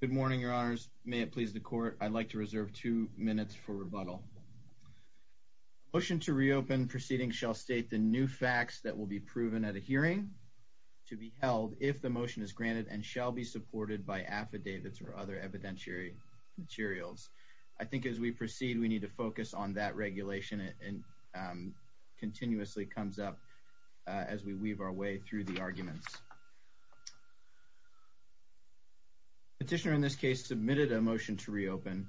Good morning, your honors. May it please the court. I'd like to reserve two minutes for rebuttal. Motion to reopen proceeding shall state the new facts that will be proven at a hearing to be held if the motion is granted and shall be supported by affidavits or other evidentiary materials. I think as we proceed we need to focus on that regulation and continuously comes up as we weave our way through the arguments. Petitioner in this case submitted a motion to reopen.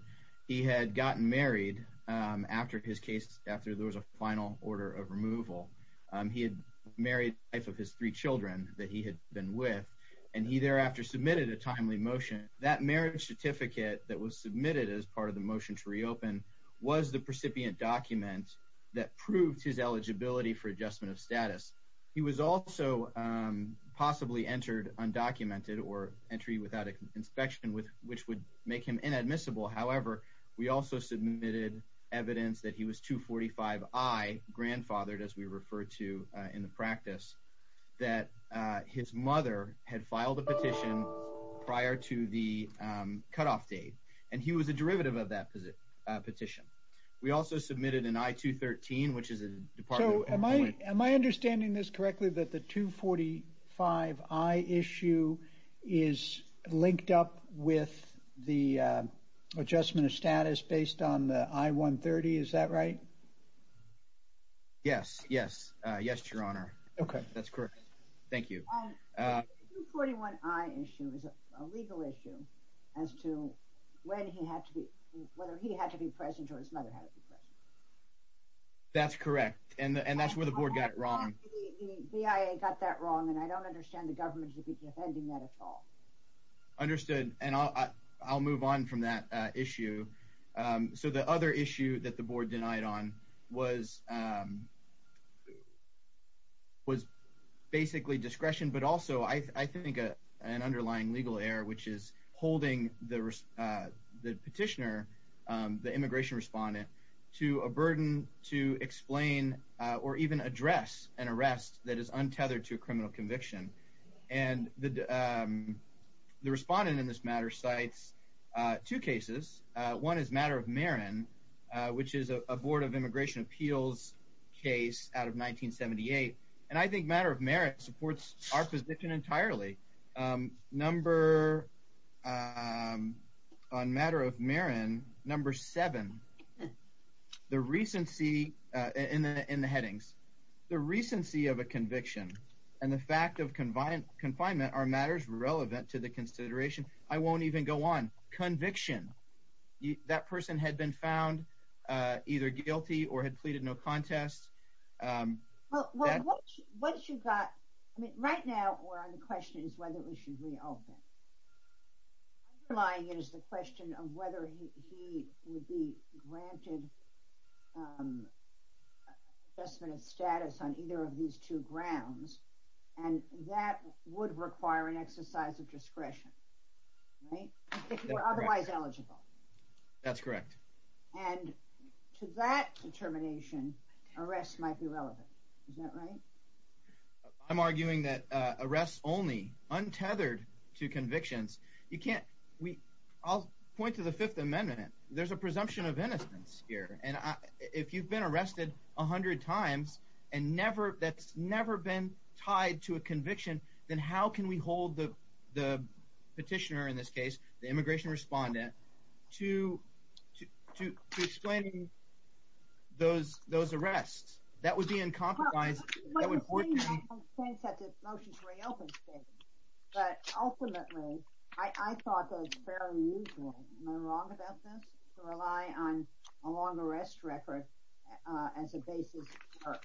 He had gotten married after his case, after there was a final order of removal. He had married the wife of his three children that he had been with and he thereafter submitted a timely motion. That marriage certificate that was submitted as part of the motion to reopen was the precipient document that proved his eligibility for adjustment of status. He was also possibly entered undocumented or entry without an inspection, which would make him inadmissible. However, we also submitted evidence that he was 245i, grandfathered as we refer to in the practice, that his mother had filed a petition prior to the cutoff date and he was a derivative of that petition. We also submitted an I-213, which is a department... Am I understanding this correctly that the 245i issue is linked up with the adjustment of status based on the I-130, is that right? Yes, yes, yes, your honor. Okay, that's correct. Thank you. The 241i issue is a legal issue as to when he had to be, whether he had to be present or his mother had to be present. That's correct and that's where the board got it wrong. The BIA got that wrong and I don't understand the government should be defending that at all. Understood and I'll move on from that issue. So the other issue that the board denied on was basically discretion, but also I think an underlying legal error, which is holding the petitioner, the immigration respondent, to a burden to explain or even address an arrest that is untethered to a criminal conviction. And the respondent in this matter cites two cases. One is Matter of Marin, which is a board of immigration appeals case out of 1978 and I think Matter of Marin supports our position entirely. Number, on Matter of Marin, number seven, the recency, in the headings, the recency of a conviction and the fact of confinement are matters relevant to the consideration. I won't even go on. Conviction, that person had been found either guilty or had pleaded no contest. Right now, we're on the question is whether we should reopen. Underlying is the question of whether he would be granted adjustment of status on either of these two grounds and that would require an exercise of discretion, right, if you were otherwise eligible. That's correct. And to that determination, arrests might be relevant. Is that right? I'm arguing that arrests only, untethered to convictions, you can't, we, I'll point to the Fifth Amendment. There's a presumption of innocence here and if you've been arrested a hundred times and never, that's never been tied to a conviction, then how can we hold the petitioner, in this case, the immigration respondent, to explaining those arrests? That would be uncompromising. But ultimately, I thought those fairly usual, am I wrong about this, to rely on a long arrest record as a basis for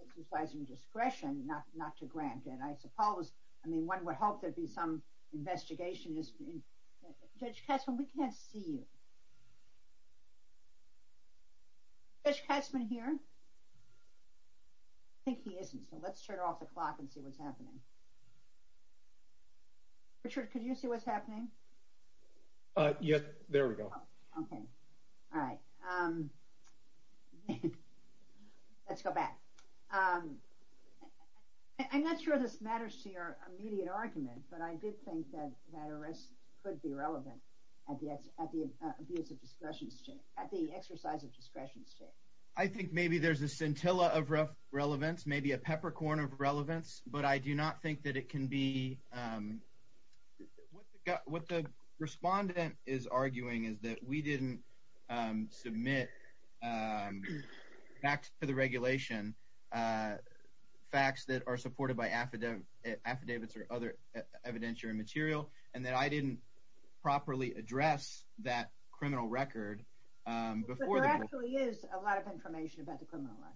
exercising discretion, not to grant it. I suppose, I mean, one would hope there'd be some investigation. Judge Katzmann, we can't see you. Judge Katzmann here? I think he isn't, so let's turn off the clock and see what's happening. Richard, could you see what's happening? Yes, there we go. Okay, all right. Let's go back. I'm not sure this matters to immediate argument, but I did think that that arrest could be relevant at the abuse of discretion state, at the exercise of discretion state. I think maybe there's a scintilla of relevance, maybe a peppercorn of relevance, but I do not think that it can be, what the respondent is arguing is that we didn't submit facts to the regulation, facts that are supported by affidavits or other evidentiary material, and that I didn't properly address that criminal record. But there actually is a lot of information about the criminal record.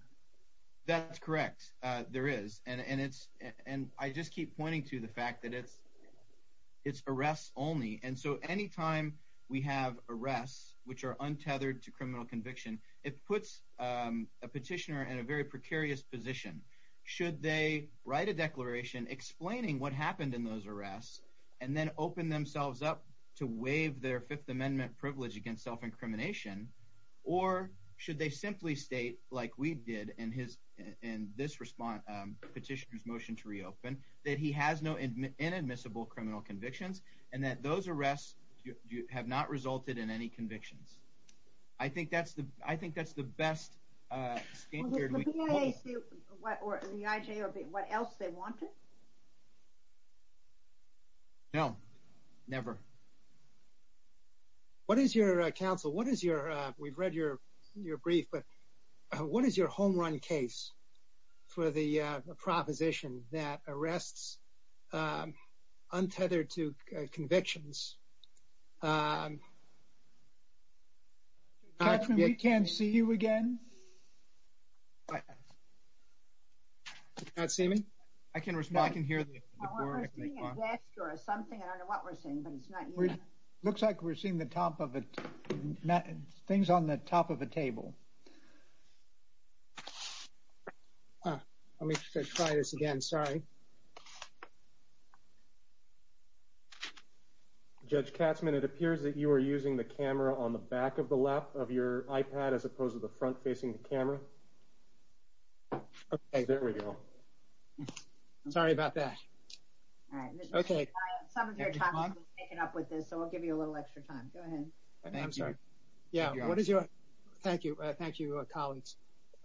That's correct, there is, and I just keep pointing to the fact that it's arrests only, and so anytime we have arrests which are untethered to criminal conviction, it puts a petitioner in a very precarious position. Should they write a declaration explaining what happened in those arrests and then open themselves up to waive their Fifth Amendment privilege against self-incrimination, or should they simply state, like we did in this petitioner's motion to reopen, that he has no inadmissible criminal convictions and that those are the best state period we can hold? The IJ or what else they wanted? No, never. What is your counsel, what is your, we've read your brief, but what is your home run case for the proposition that arrests untethered to convictions? We can't see you again. You can't see me? I can respond. I can hear the board. I was seeing a gesture or something, I don't know what we're seeing, but it's not you. Looks like we're seeing the top of it, things on the top of the table. Let me try this again, sorry. Judge Katzmann, it appears that you are using the camera on the back of the lap of your iPad as opposed to the front facing the camera. Okay, there we go. Sorry about that. All right. Okay. Some of your time has been taken up with this, so we'll give you a little extra time. Go ahead. I'm sorry. Yeah, what is your, thank you. Thank you, Collins.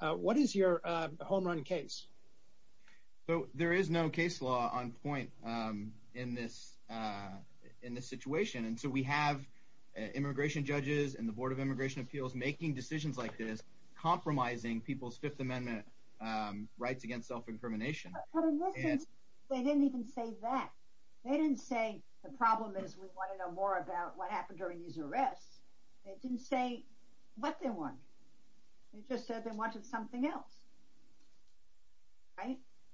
What is your home run case? So there is no case law on point in this situation, and so we have immigration judges and the Board of Immigration Appeals making decisions like this, compromising people's Fifth Amendment rights against self-incrimination. But listen, they didn't even say that. They didn't say the problem is we want to know more about what happened during these arrests. They didn't say what they want. They just said they wanted something else.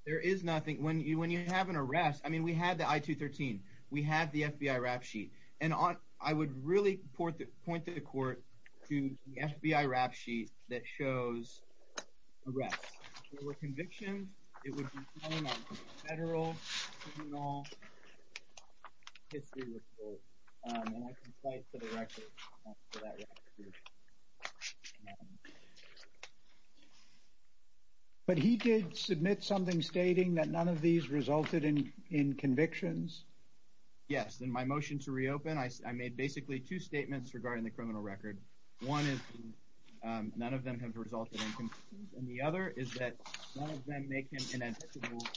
There is nothing. When you have an arrest, I mean, we had the I-213. We had the FBI rap sheet. And I would really point to the court to the FBI rap sheet that shows arrests. There were convictions. It would be on a federal criminal history report. And I can point to the record for that record. But he did submit something stating that none of these resulted in convictions? Yes. In my motion to reopen, I made basically two statements regarding the criminal record. One is none of them have resulted in convictions. And the other is that none of them make him statutorily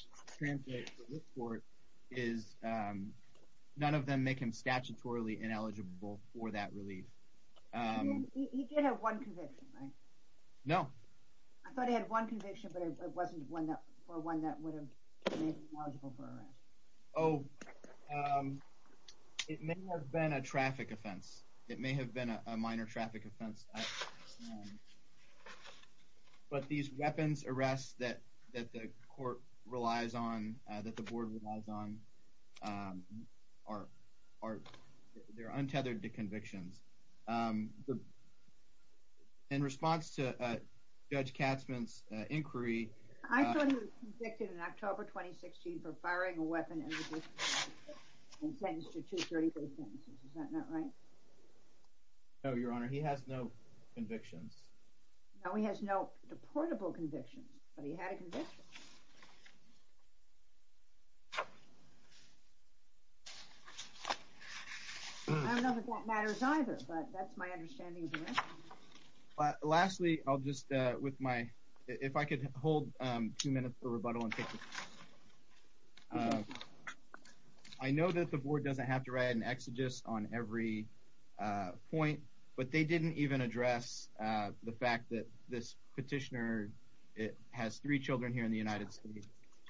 ineligible for that relief. He did have one conviction, right? No. I thought he had one conviction, but it wasn't for one that would have made him eligible for arrest. Oh, it may have been a traffic offense. It may have been a minor traffic offense. But these weapons arrests that the court relies on, that the board relies on, they're untethered to convictions. In response to Judge Katzman's inquiry— I thought he was convicted in October 2016 for firing a weapon and sentenced to 234 sentences. Is that not right? No, Your Honor. He has no convictions. No, he has no deportable convictions, but he had a conviction. I don't know if that matters either, but that's my understanding of the rest. Lastly, I'll just, with my—if I could hold two minutes for rebuttal. I know that the board doesn't have to write an exegesis on every point, but they didn't even address the fact that this petitioner has three children here in the United States,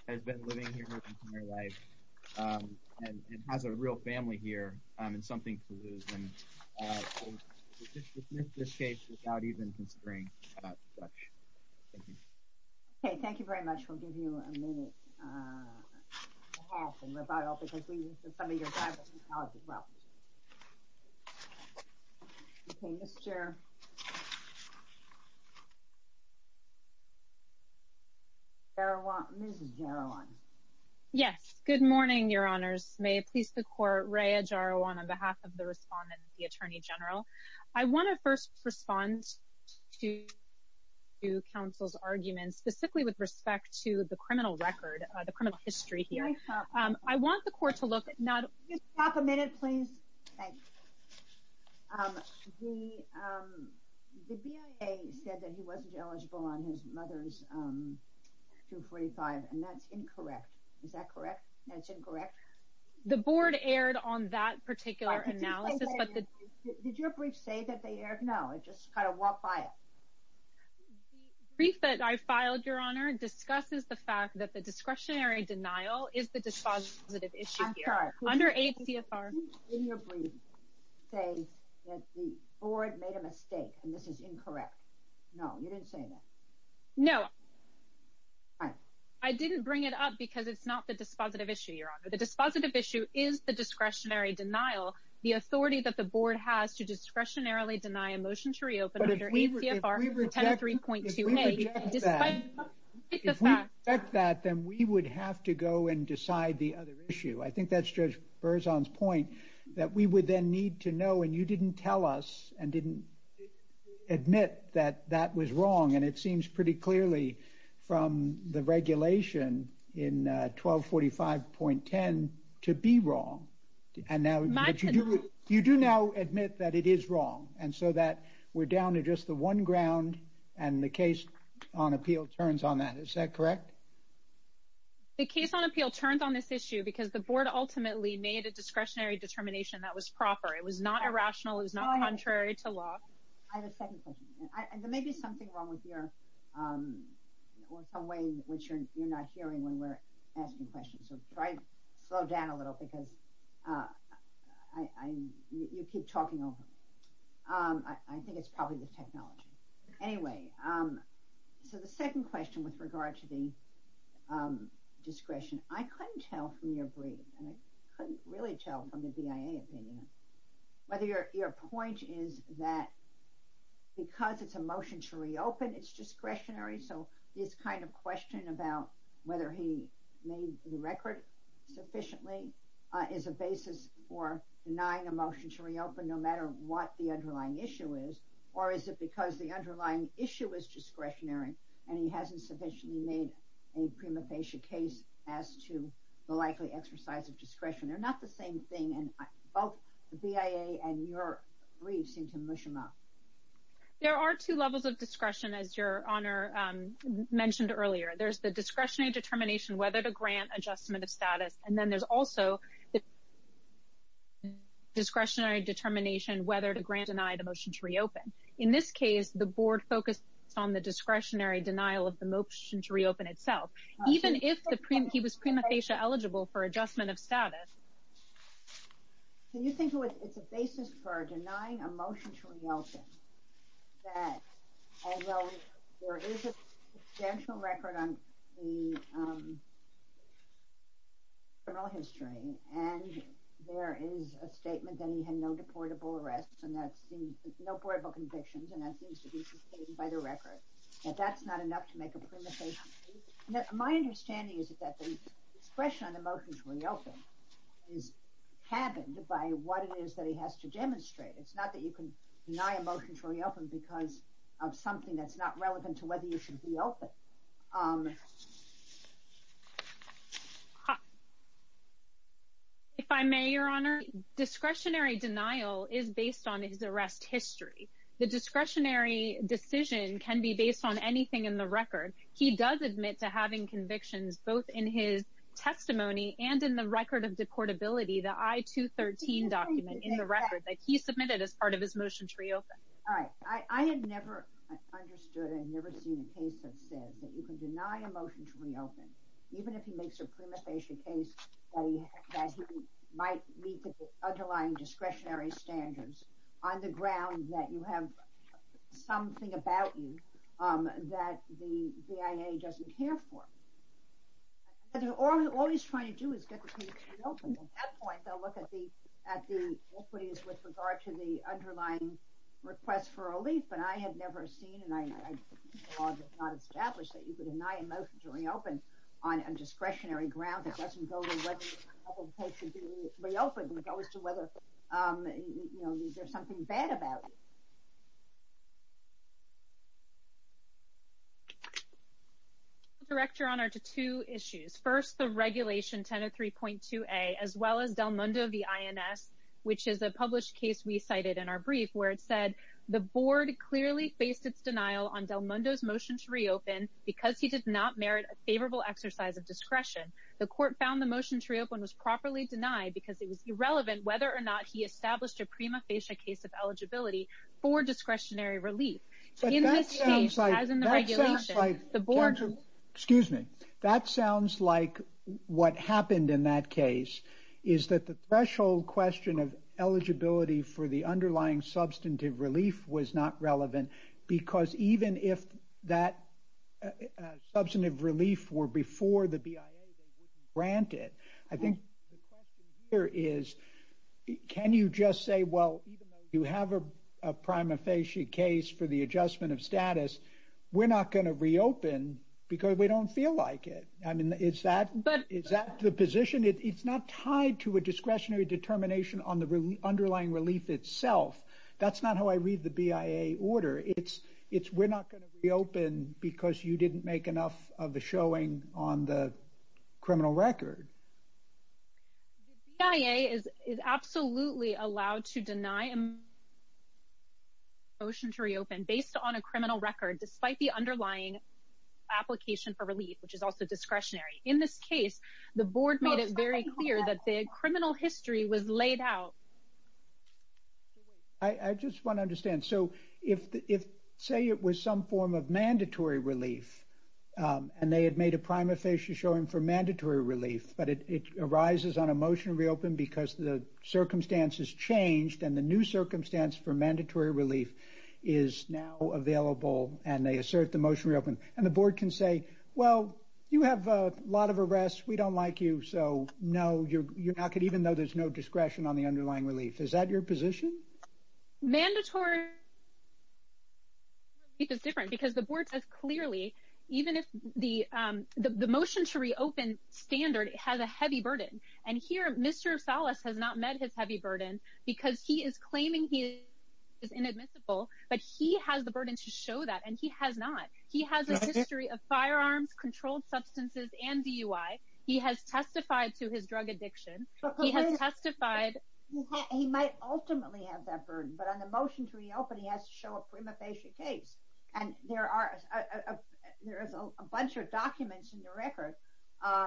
has been living here his entire life, and has a real family here, and something to lose. And we'll dismiss this case without even considering that. Okay, thank you very much. We'll give you a minute to have a rebuttal, because we need some of your guidance and knowledge as well. Okay, Ms. Jaroan. Yes, good morning, Your Honors. May it please the Court, Rhea Jaroan, on behalf of the Respondent and the Attorney General. I want to first respond to counsel's arguments, specifically with respect to the criminal record, the criminal history here. I want the Court to look at— Can you stop a minute, please? The BIA said that he wasn't eligible on his mother's 245, and that's incorrect. Is that correct? That's incorrect? The board erred on that particular analysis, but the— Did your brief say that they erred? No, it just kind of walked by it. The brief that I filed, Your Honor, discusses the fact that the discretionary denial is the dispositive issue here. I'm sorry. Under ACFR— Did you, in your brief, say that the board made a mistake and this is incorrect? No, you didn't say that? No. All right. I didn't bring it up because it's not the dispositive issue, Your Honor. The dispositive issue is the discretionary denial. The authority that the board has to discretionarily deny a motion to reopen under ACFR 10.3.28— If we reject that, then we would have to go and decide the other issue. I think that's Judge Berzon's point, that we would then need to know, and you didn't tell us and didn't admit that that was wrong, and it seems pretty clearly from the regulation in 1245.10 to be wrong. You do now admit that it is wrong, and so that we're down to just the one ground, and the case on appeal turns on that. Is that correct? The case on appeal turns on this issue because the board ultimately made a discretionary determination that was proper. It was not irrational. It was not contrary to law. I have a second question. There may be something wrong with your—or some way in which you're not hearing when we're asking questions, so try to slow down a little because you keep talking over me. I think it's probably the technology. Anyway, so the second question with regard to the discretion, I couldn't tell from your brief, and I couldn't really tell from the BIA opinion, whether your point is that because it's a motion to reopen, it's discretionary, so this kind of question about whether he made the record sufficiently is a basis for denying a motion to reopen, no matter what the underlying issue is, or is it because the underlying issue is discretionary, and he hasn't sufficiently made a prima facie case as to the likely exercise of discretion? They're not the same thing, and both the BIA and your briefs seem to mush them up. There are two levels of discretion, as your Honor mentioned earlier. There's the discretionary determination whether to grant adjustment of status, and then there's also the discretionary determination whether to grant or deny the motion to reopen. In this case, the Board focused on the discretionary denial of the motion to reopen itself, even if he was prima facie eligible for adjustment of status. So you think it's a basis for denying a motion to reopen, that although there is a substantial record on the criminal history, and there is a statement that he had no deportable arrests, and that seems, no portable convictions, and that seems to be sustained by the record, that that's not enough to make a prima facie case? My understanding is that the discretion on the is happened by what it is that he has to demonstrate. It's not that you can deny a motion to reopen because of something that's not relevant to whether you should reopen. If I may, your Honor, discretionary denial is based on his arrest history. The discretionary decision can be based on anything in the record. He does admit to having convictions both in his record of deportability, the I-213 document in the record that he submitted as part of his motion to reopen. All right. I had never understood and never seen a case that says that you can deny a motion to reopen, even if he makes a prima facie case that he might meet the underlying discretionary standards on the ground that you have something about you that the BIA doesn't care for. All he's trying to do is get the case reopened. At that point, they'll look at the authorities with regard to the underlying request for relief, but I had never seen, and I did not establish that you could deny a motion to reopen on a discretionary ground that doesn't go to whether the case should be reopened. It goes to whether there's something bad about it. Your Honor, to two issues. First, the regulation 1003.2a, as well as Del Mundo v. INS, which is a published case we cited in our brief, where it said, the board clearly faced its denial on Del Mundo's motion to reopen because he did not merit a favorable exercise of discretion. The court found the motion to reopen was properly denied because it was irrelevant whether or not he established a prima facie case of eligibility for discretionary relief. In this case, as in the regulation, the board- Excuse me. That sounds like what happened in that case is that the threshold question of eligibility for the underlying substantive relief was not relevant because even if that substantive relief were before the BIA, they wouldn't grant it. I think the question here is, can you just say, even though you have a prima facie case for the adjustment of status, we're not going to reopen because we don't feel like it. Is that the position? It's not tied to a discretionary determination on the underlying relief itself. That's not how I read the BIA order. It's, we're not going to reopen because you didn't make enough of the showing on the criminal record. The BIA is absolutely allowed to deny a motion to reopen based on a criminal record, despite the underlying application for relief, which is also discretionary. In this case, the board made it very clear that the criminal history was laid out. I just want to understand. So, if, say, it was some form of mandatory relief, and they had made a prima facie showing for mandatory relief, but it arises on a motion to reopen because the circumstances changed and the new circumstance for mandatory relief is now available, and they assert the motion to reopen. And the board can say, well, you have a lot of arrests. We don't like you. So, no, you're not going to, even though there's no discretion on the underlying relief. Is that your position? Mandatory relief is different because the board says clearly, even if the motion to reopen standard has a heavy burden. And here, Mr. Salas has not met his heavy burden because he is claiming he is inadmissible, but he has the burden to show that, and he has not. He has a history of firearms, controlled substances, and DUI. He has testified to his drug addiction. He has testified. He might ultimately have that burden, but on the motion to reopen, he has to show a prima facie case. And there is a bunch of documents in the record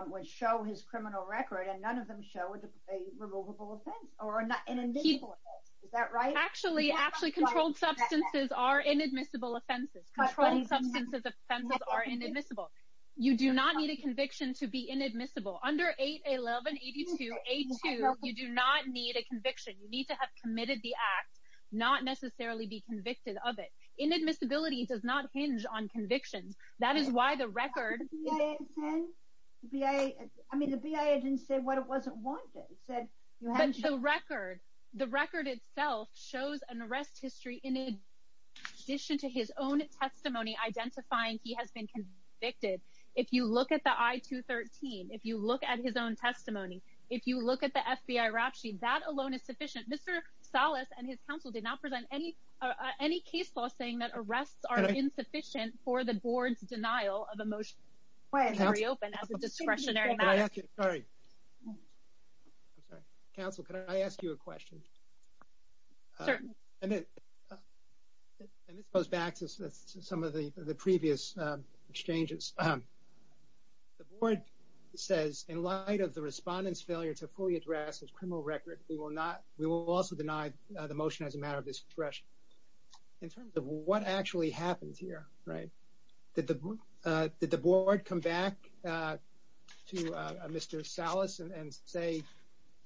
which show his criminal record, and none of them show a removable offense or an inadmissible offense. Is that right? Actually, controlled substances are inadmissible offenses. Controlled substances offenses are inadmissible. You do not need a conviction to be inadmissible. Under 811, 82, 82, you do not need a conviction. You need to have committed the act, not necessarily be convicted of it. Inadmissibility does not hinge on convictions. That is why the record... I mean, the BIA didn't say what it wasn't wanted. It said you have to... The record itself shows an arrest history in addition to his own testimony identifying he has been convicted. If you look at the I-213, if you look at his own testimony, if you look at the FBI rap sheet, that alone is sufficient. Mr. Salas and his counsel did not present any case law saying that arrests are insufficient for the board's denial of a motion to reopen as a discretionary matter. Can I ask you... Sorry. I'm sorry. Counsel, can I ask you a question? Certainly. And this goes back to some of the previous exchanges. The board says, in light of the respondent's failure to fully address his criminal record, we will not... We will also deny the motion as a matter of discretion. In terms of what actually happened here, right? Did the board come back to Mr. Salas and say,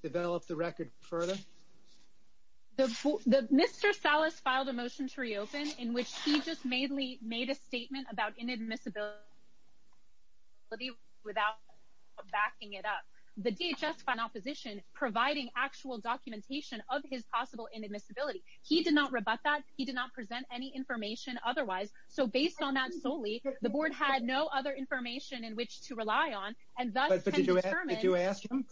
develop the record further? Mr. Salas filed a motion to reopen in which he just made a statement about inadmissibility without backing it up. The DHS found opposition providing actual documentation of his possible inadmissibility. He did not rebut that. He did not present any information otherwise. So based on that solely, the board had no other information in which to rely on. But did you ask him?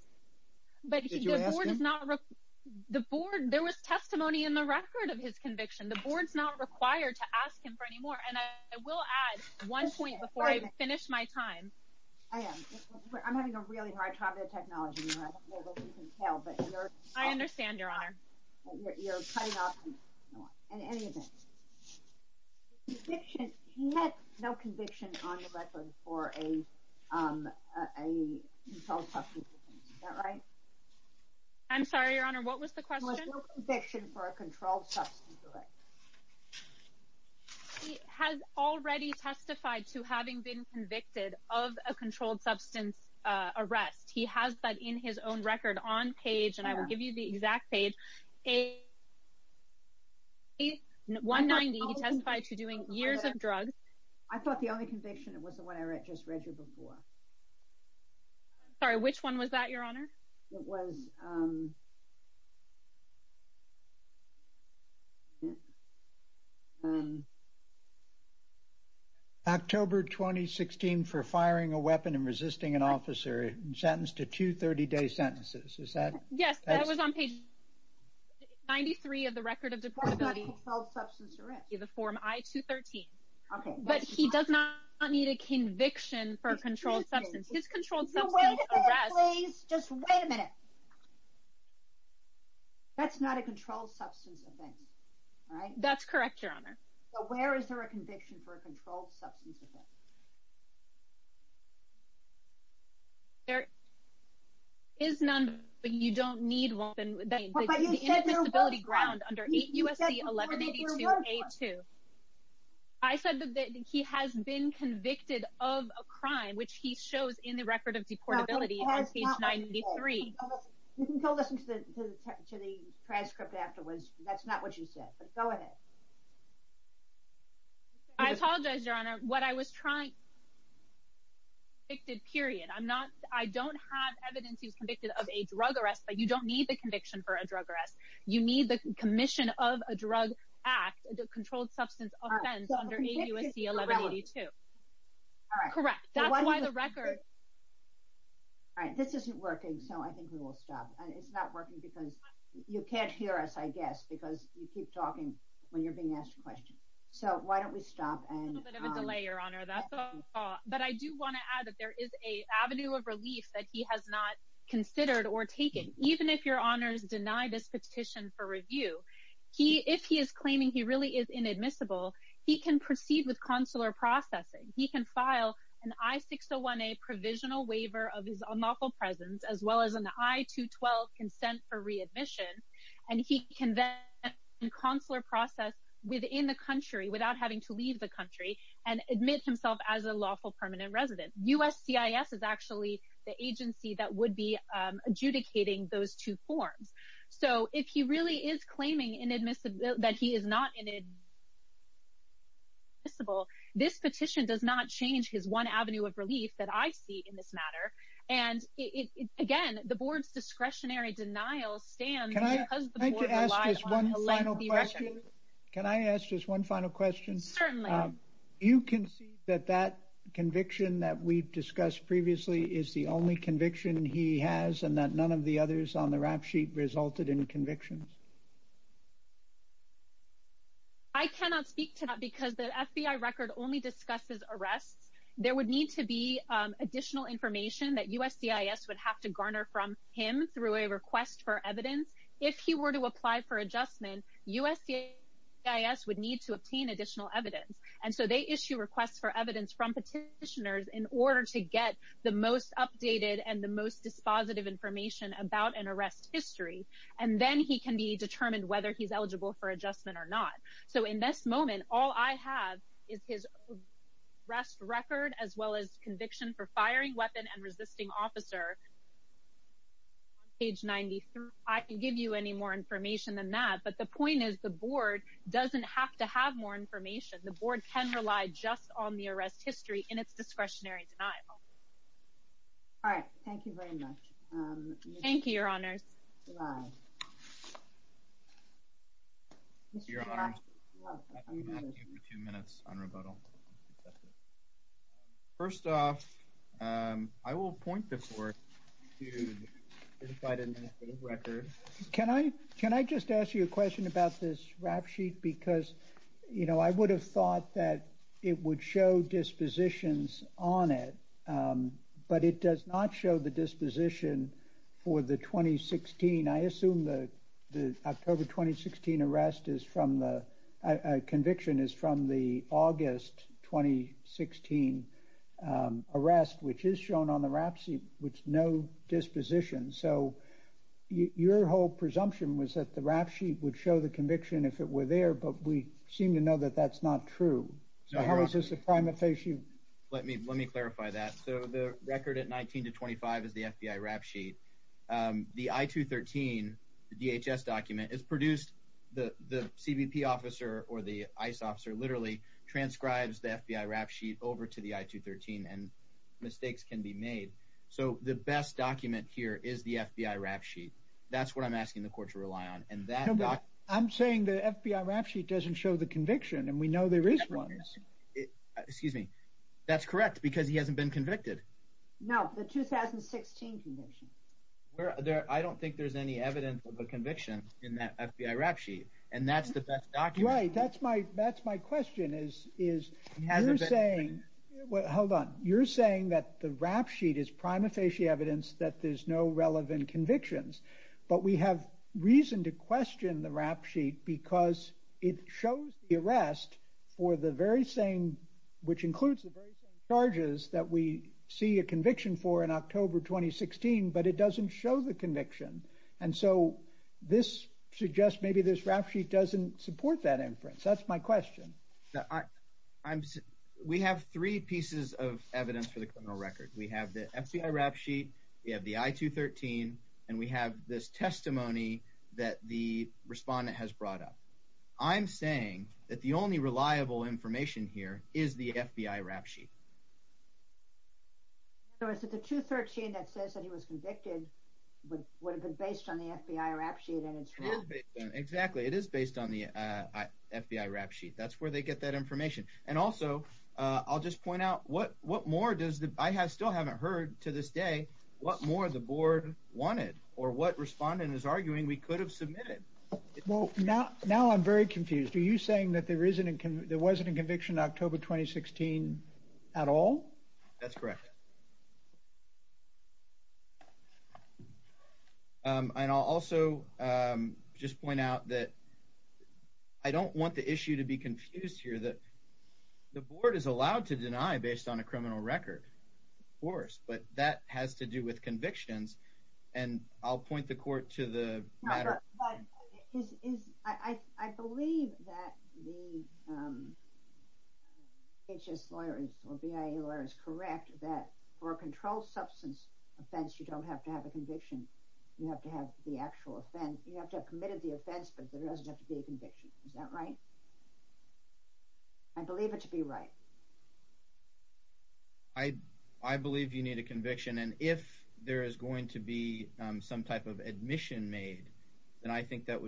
There was testimony in the record of his conviction. The board's not required to I am. I'm having a really hard time with the technology here. I don't know if you can tell, but you're... I understand, Your Honor. You're cutting off... In any event, his conviction... He had no conviction on the record for a controlled substance, is that right? I'm sorry, Your Honor. What was the question? He had no conviction for a controlled substance, correct? He has already testified to having been convicted of a controlled substance arrest. He has that in his own record on page, and I will give you the exact page, page 190. He testified to doing years of drugs. I thought the only conviction was the one I just read you before. Sorry, which one was that, Your Honor? It was... October, 2016, for firing a weapon and resisting an officer, sentenced to two 30-day sentences. Is that... Yes, that was on page 93 of the record of deportability. For a controlled substance arrest. In the form I-213. Okay. But he does not need a conviction for a controlled substance. His controlled substance arrest... Just wait a minute. That's not a controlled substance offense, all right? That's correct, Your Honor. So where is there a conviction for a controlled substance offense? There is none, but you don't need one. But you said there was one. The indefensibility ground under USC 1182-A-2. I said that he has been convicted of a crime, which he shows in the record of deportability on page 93. You can go listen to the transcript afterwards. That's not what you said, but go ahead. I apologize, Your Honor. What I was trying... ...convicted, period. I don't have evidence he was convicted of a drug arrest, but you don't need the conviction for a drug arrest. You need the commission of a drug act, a controlled substance offense, under USC 1182. All right. Correct. That's why the record... All right. This isn't working, so I think we will stop. And it's not working because you can't hear us, I guess, because you keep talking when you're being asked a question. So why don't we stop and... A little bit of a delay, Your Honor. That's all. But I do want to add that there is an avenue of relief that he has not considered or taken. Even if Your Honors deny this petition for review, if he is claiming he really is inadmissible, he can proceed with consular processing. He can file an I-601A provisional waiver of his unlawful presence, as well as an I-212 consent for readmission, and he can then consular process within the country without having to leave the country and admit himself as a lawful permanent resident. USCIS is actually the agency that would be adjudicating those two forms. So if he really is claiming that he is not inadmissible, this petition does not change his one avenue of relief that I see in this matter. And again, the Board's discretionary denial stands because the Board relied on a lengthy resolution. Can I ask just one final question? Certainly. You concede that that conviction that we've discussed previously is the only conviction he has and that none of the others on the rap sheet resulted in convictions? I cannot speak to that because the FBI record only discusses arrests. There would need to be additional information that USCIS would have to garner from him through a request for evidence. If he were to apply for adjustment, USCIS would need to obtain additional evidence. And so they issue requests for evidence from petitioners in order to get the most updated and the most dispositive information about an arrest history. And then he can be determined whether he's eligible for adjustment or not. So in this moment, all I have is his arrest record as well as conviction for firing weapon and resisting officer on page 93. I can give you any more information than that. But the point is the Board doesn't have to have more information. The Board can rely just on the arrest history in its discretionary denial. All right. Thank you very much. Thank you, Your Honors. First off, I will point before you to the record. Can I just ask you a question about this rap sheet? Because, you know, I would have thought that it would show dispositions on it, but it does not show the disposition for the 2016. I assume the October 2016 conviction is from the August 2016 arrest, which is shown on the rap sheet with no disposition. So your whole presumption was that the rap sheet would show the conviction if it were there, but we seem to know that that's not true. So how is this a prima facie? Let me let me clarify that. So the record at 19 to 25 is the FBI rap sheet. The I-213, the DHS document is produced. The CBP officer or the ICE officer literally transcribes the FBI rap sheet over to the I-213 and mistakes can be made. So the best document here is the FBI rap sheet. That's what I'm asking the court to rely on. I'm saying the FBI rap sheet doesn't show the conviction and we know there is one. Excuse me. That's correct because he hasn't been convicted. No, the 2016 conviction. I don't think there's any evidence of a conviction in that FBI rap sheet. And that's the best document. Right. That's my that's my question is, is you're saying, well, hold on. You're saying that the rap sheet is prima facie evidence that there's no relevant convictions, but we have reason to question the rap sheet because it shows the arrest for the very same, which includes the very same charges that we see a conviction for in October 2016, but it doesn't show the conviction. And so this suggests maybe this rap sheet doesn't support that inference. That's my question. We have three pieces of evidence for the criminal record. We have the FBI rap sheet. We have the I-213. And we have this testimony that the respondent has brought up. I'm saying that the only reliable information here is the FBI rap sheet. So is it the 213 that says that he was convicted would have been based on the FBI rap sheet and it's wrong? Exactly. It is based on the FBI rap sheet. That's where they get that information. And also, I'll just point out, I still haven't heard to this day what more the board wanted or what respondent is arguing we could have submitted. Well, now I'm very confused. Are you saying that there wasn't a conviction in October 2016 at all? That's correct. And I'll also just point out that I don't want the issue to be confused here. The board is allowed to deny based on a criminal record, of course. But that has to do with convictions. And I'll point the court to the matter. I believe that the H.S. lawyer or BIA lawyer is correct that for a controlled substance offense, you don't have to have a conviction. You have to have the actual offense. You have to have committed the offense, but there doesn't have to be a conviction. Is that right? I believe it to be right. I believe you need a conviction. And if there is going to be some type of admission made, then I think that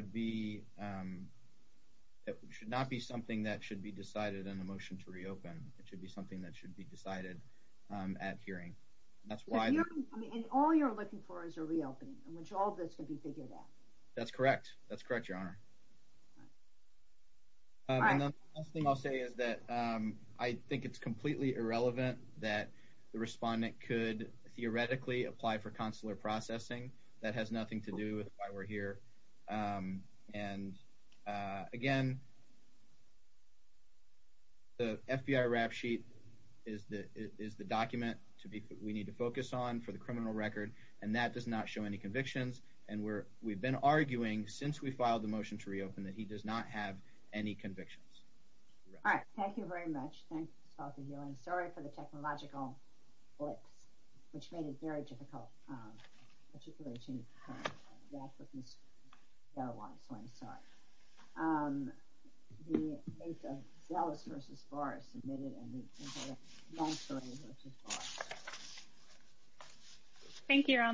should not be something that should be decided on a motion to reopen. It should be something that should be decided at hearing. That's why- And all you're looking for is a reopening in which all of this can be figured out. That's correct. That's correct, Your Honor. And the last thing I'll say is that I think it's completely irrelevant that the respondent could theoretically apply for consular processing. That has nothing to do with why we're here. And again, the FBI rap sheet is the document we need to focus on for the criminal record. And that does not show any convictions. And we've been arguing since we filed the motion to reopen that he does not have any convictions. All right. Thank you very much. Thank you, Mr. Spaulding. You're on the story for the technological blips, which made it very difficult to articulate that with Ms. Delaware. So I'm sorry. The case of Sellers v. Barr is submitted, and the case of Langston v. Barr. Thank you, Your Honor.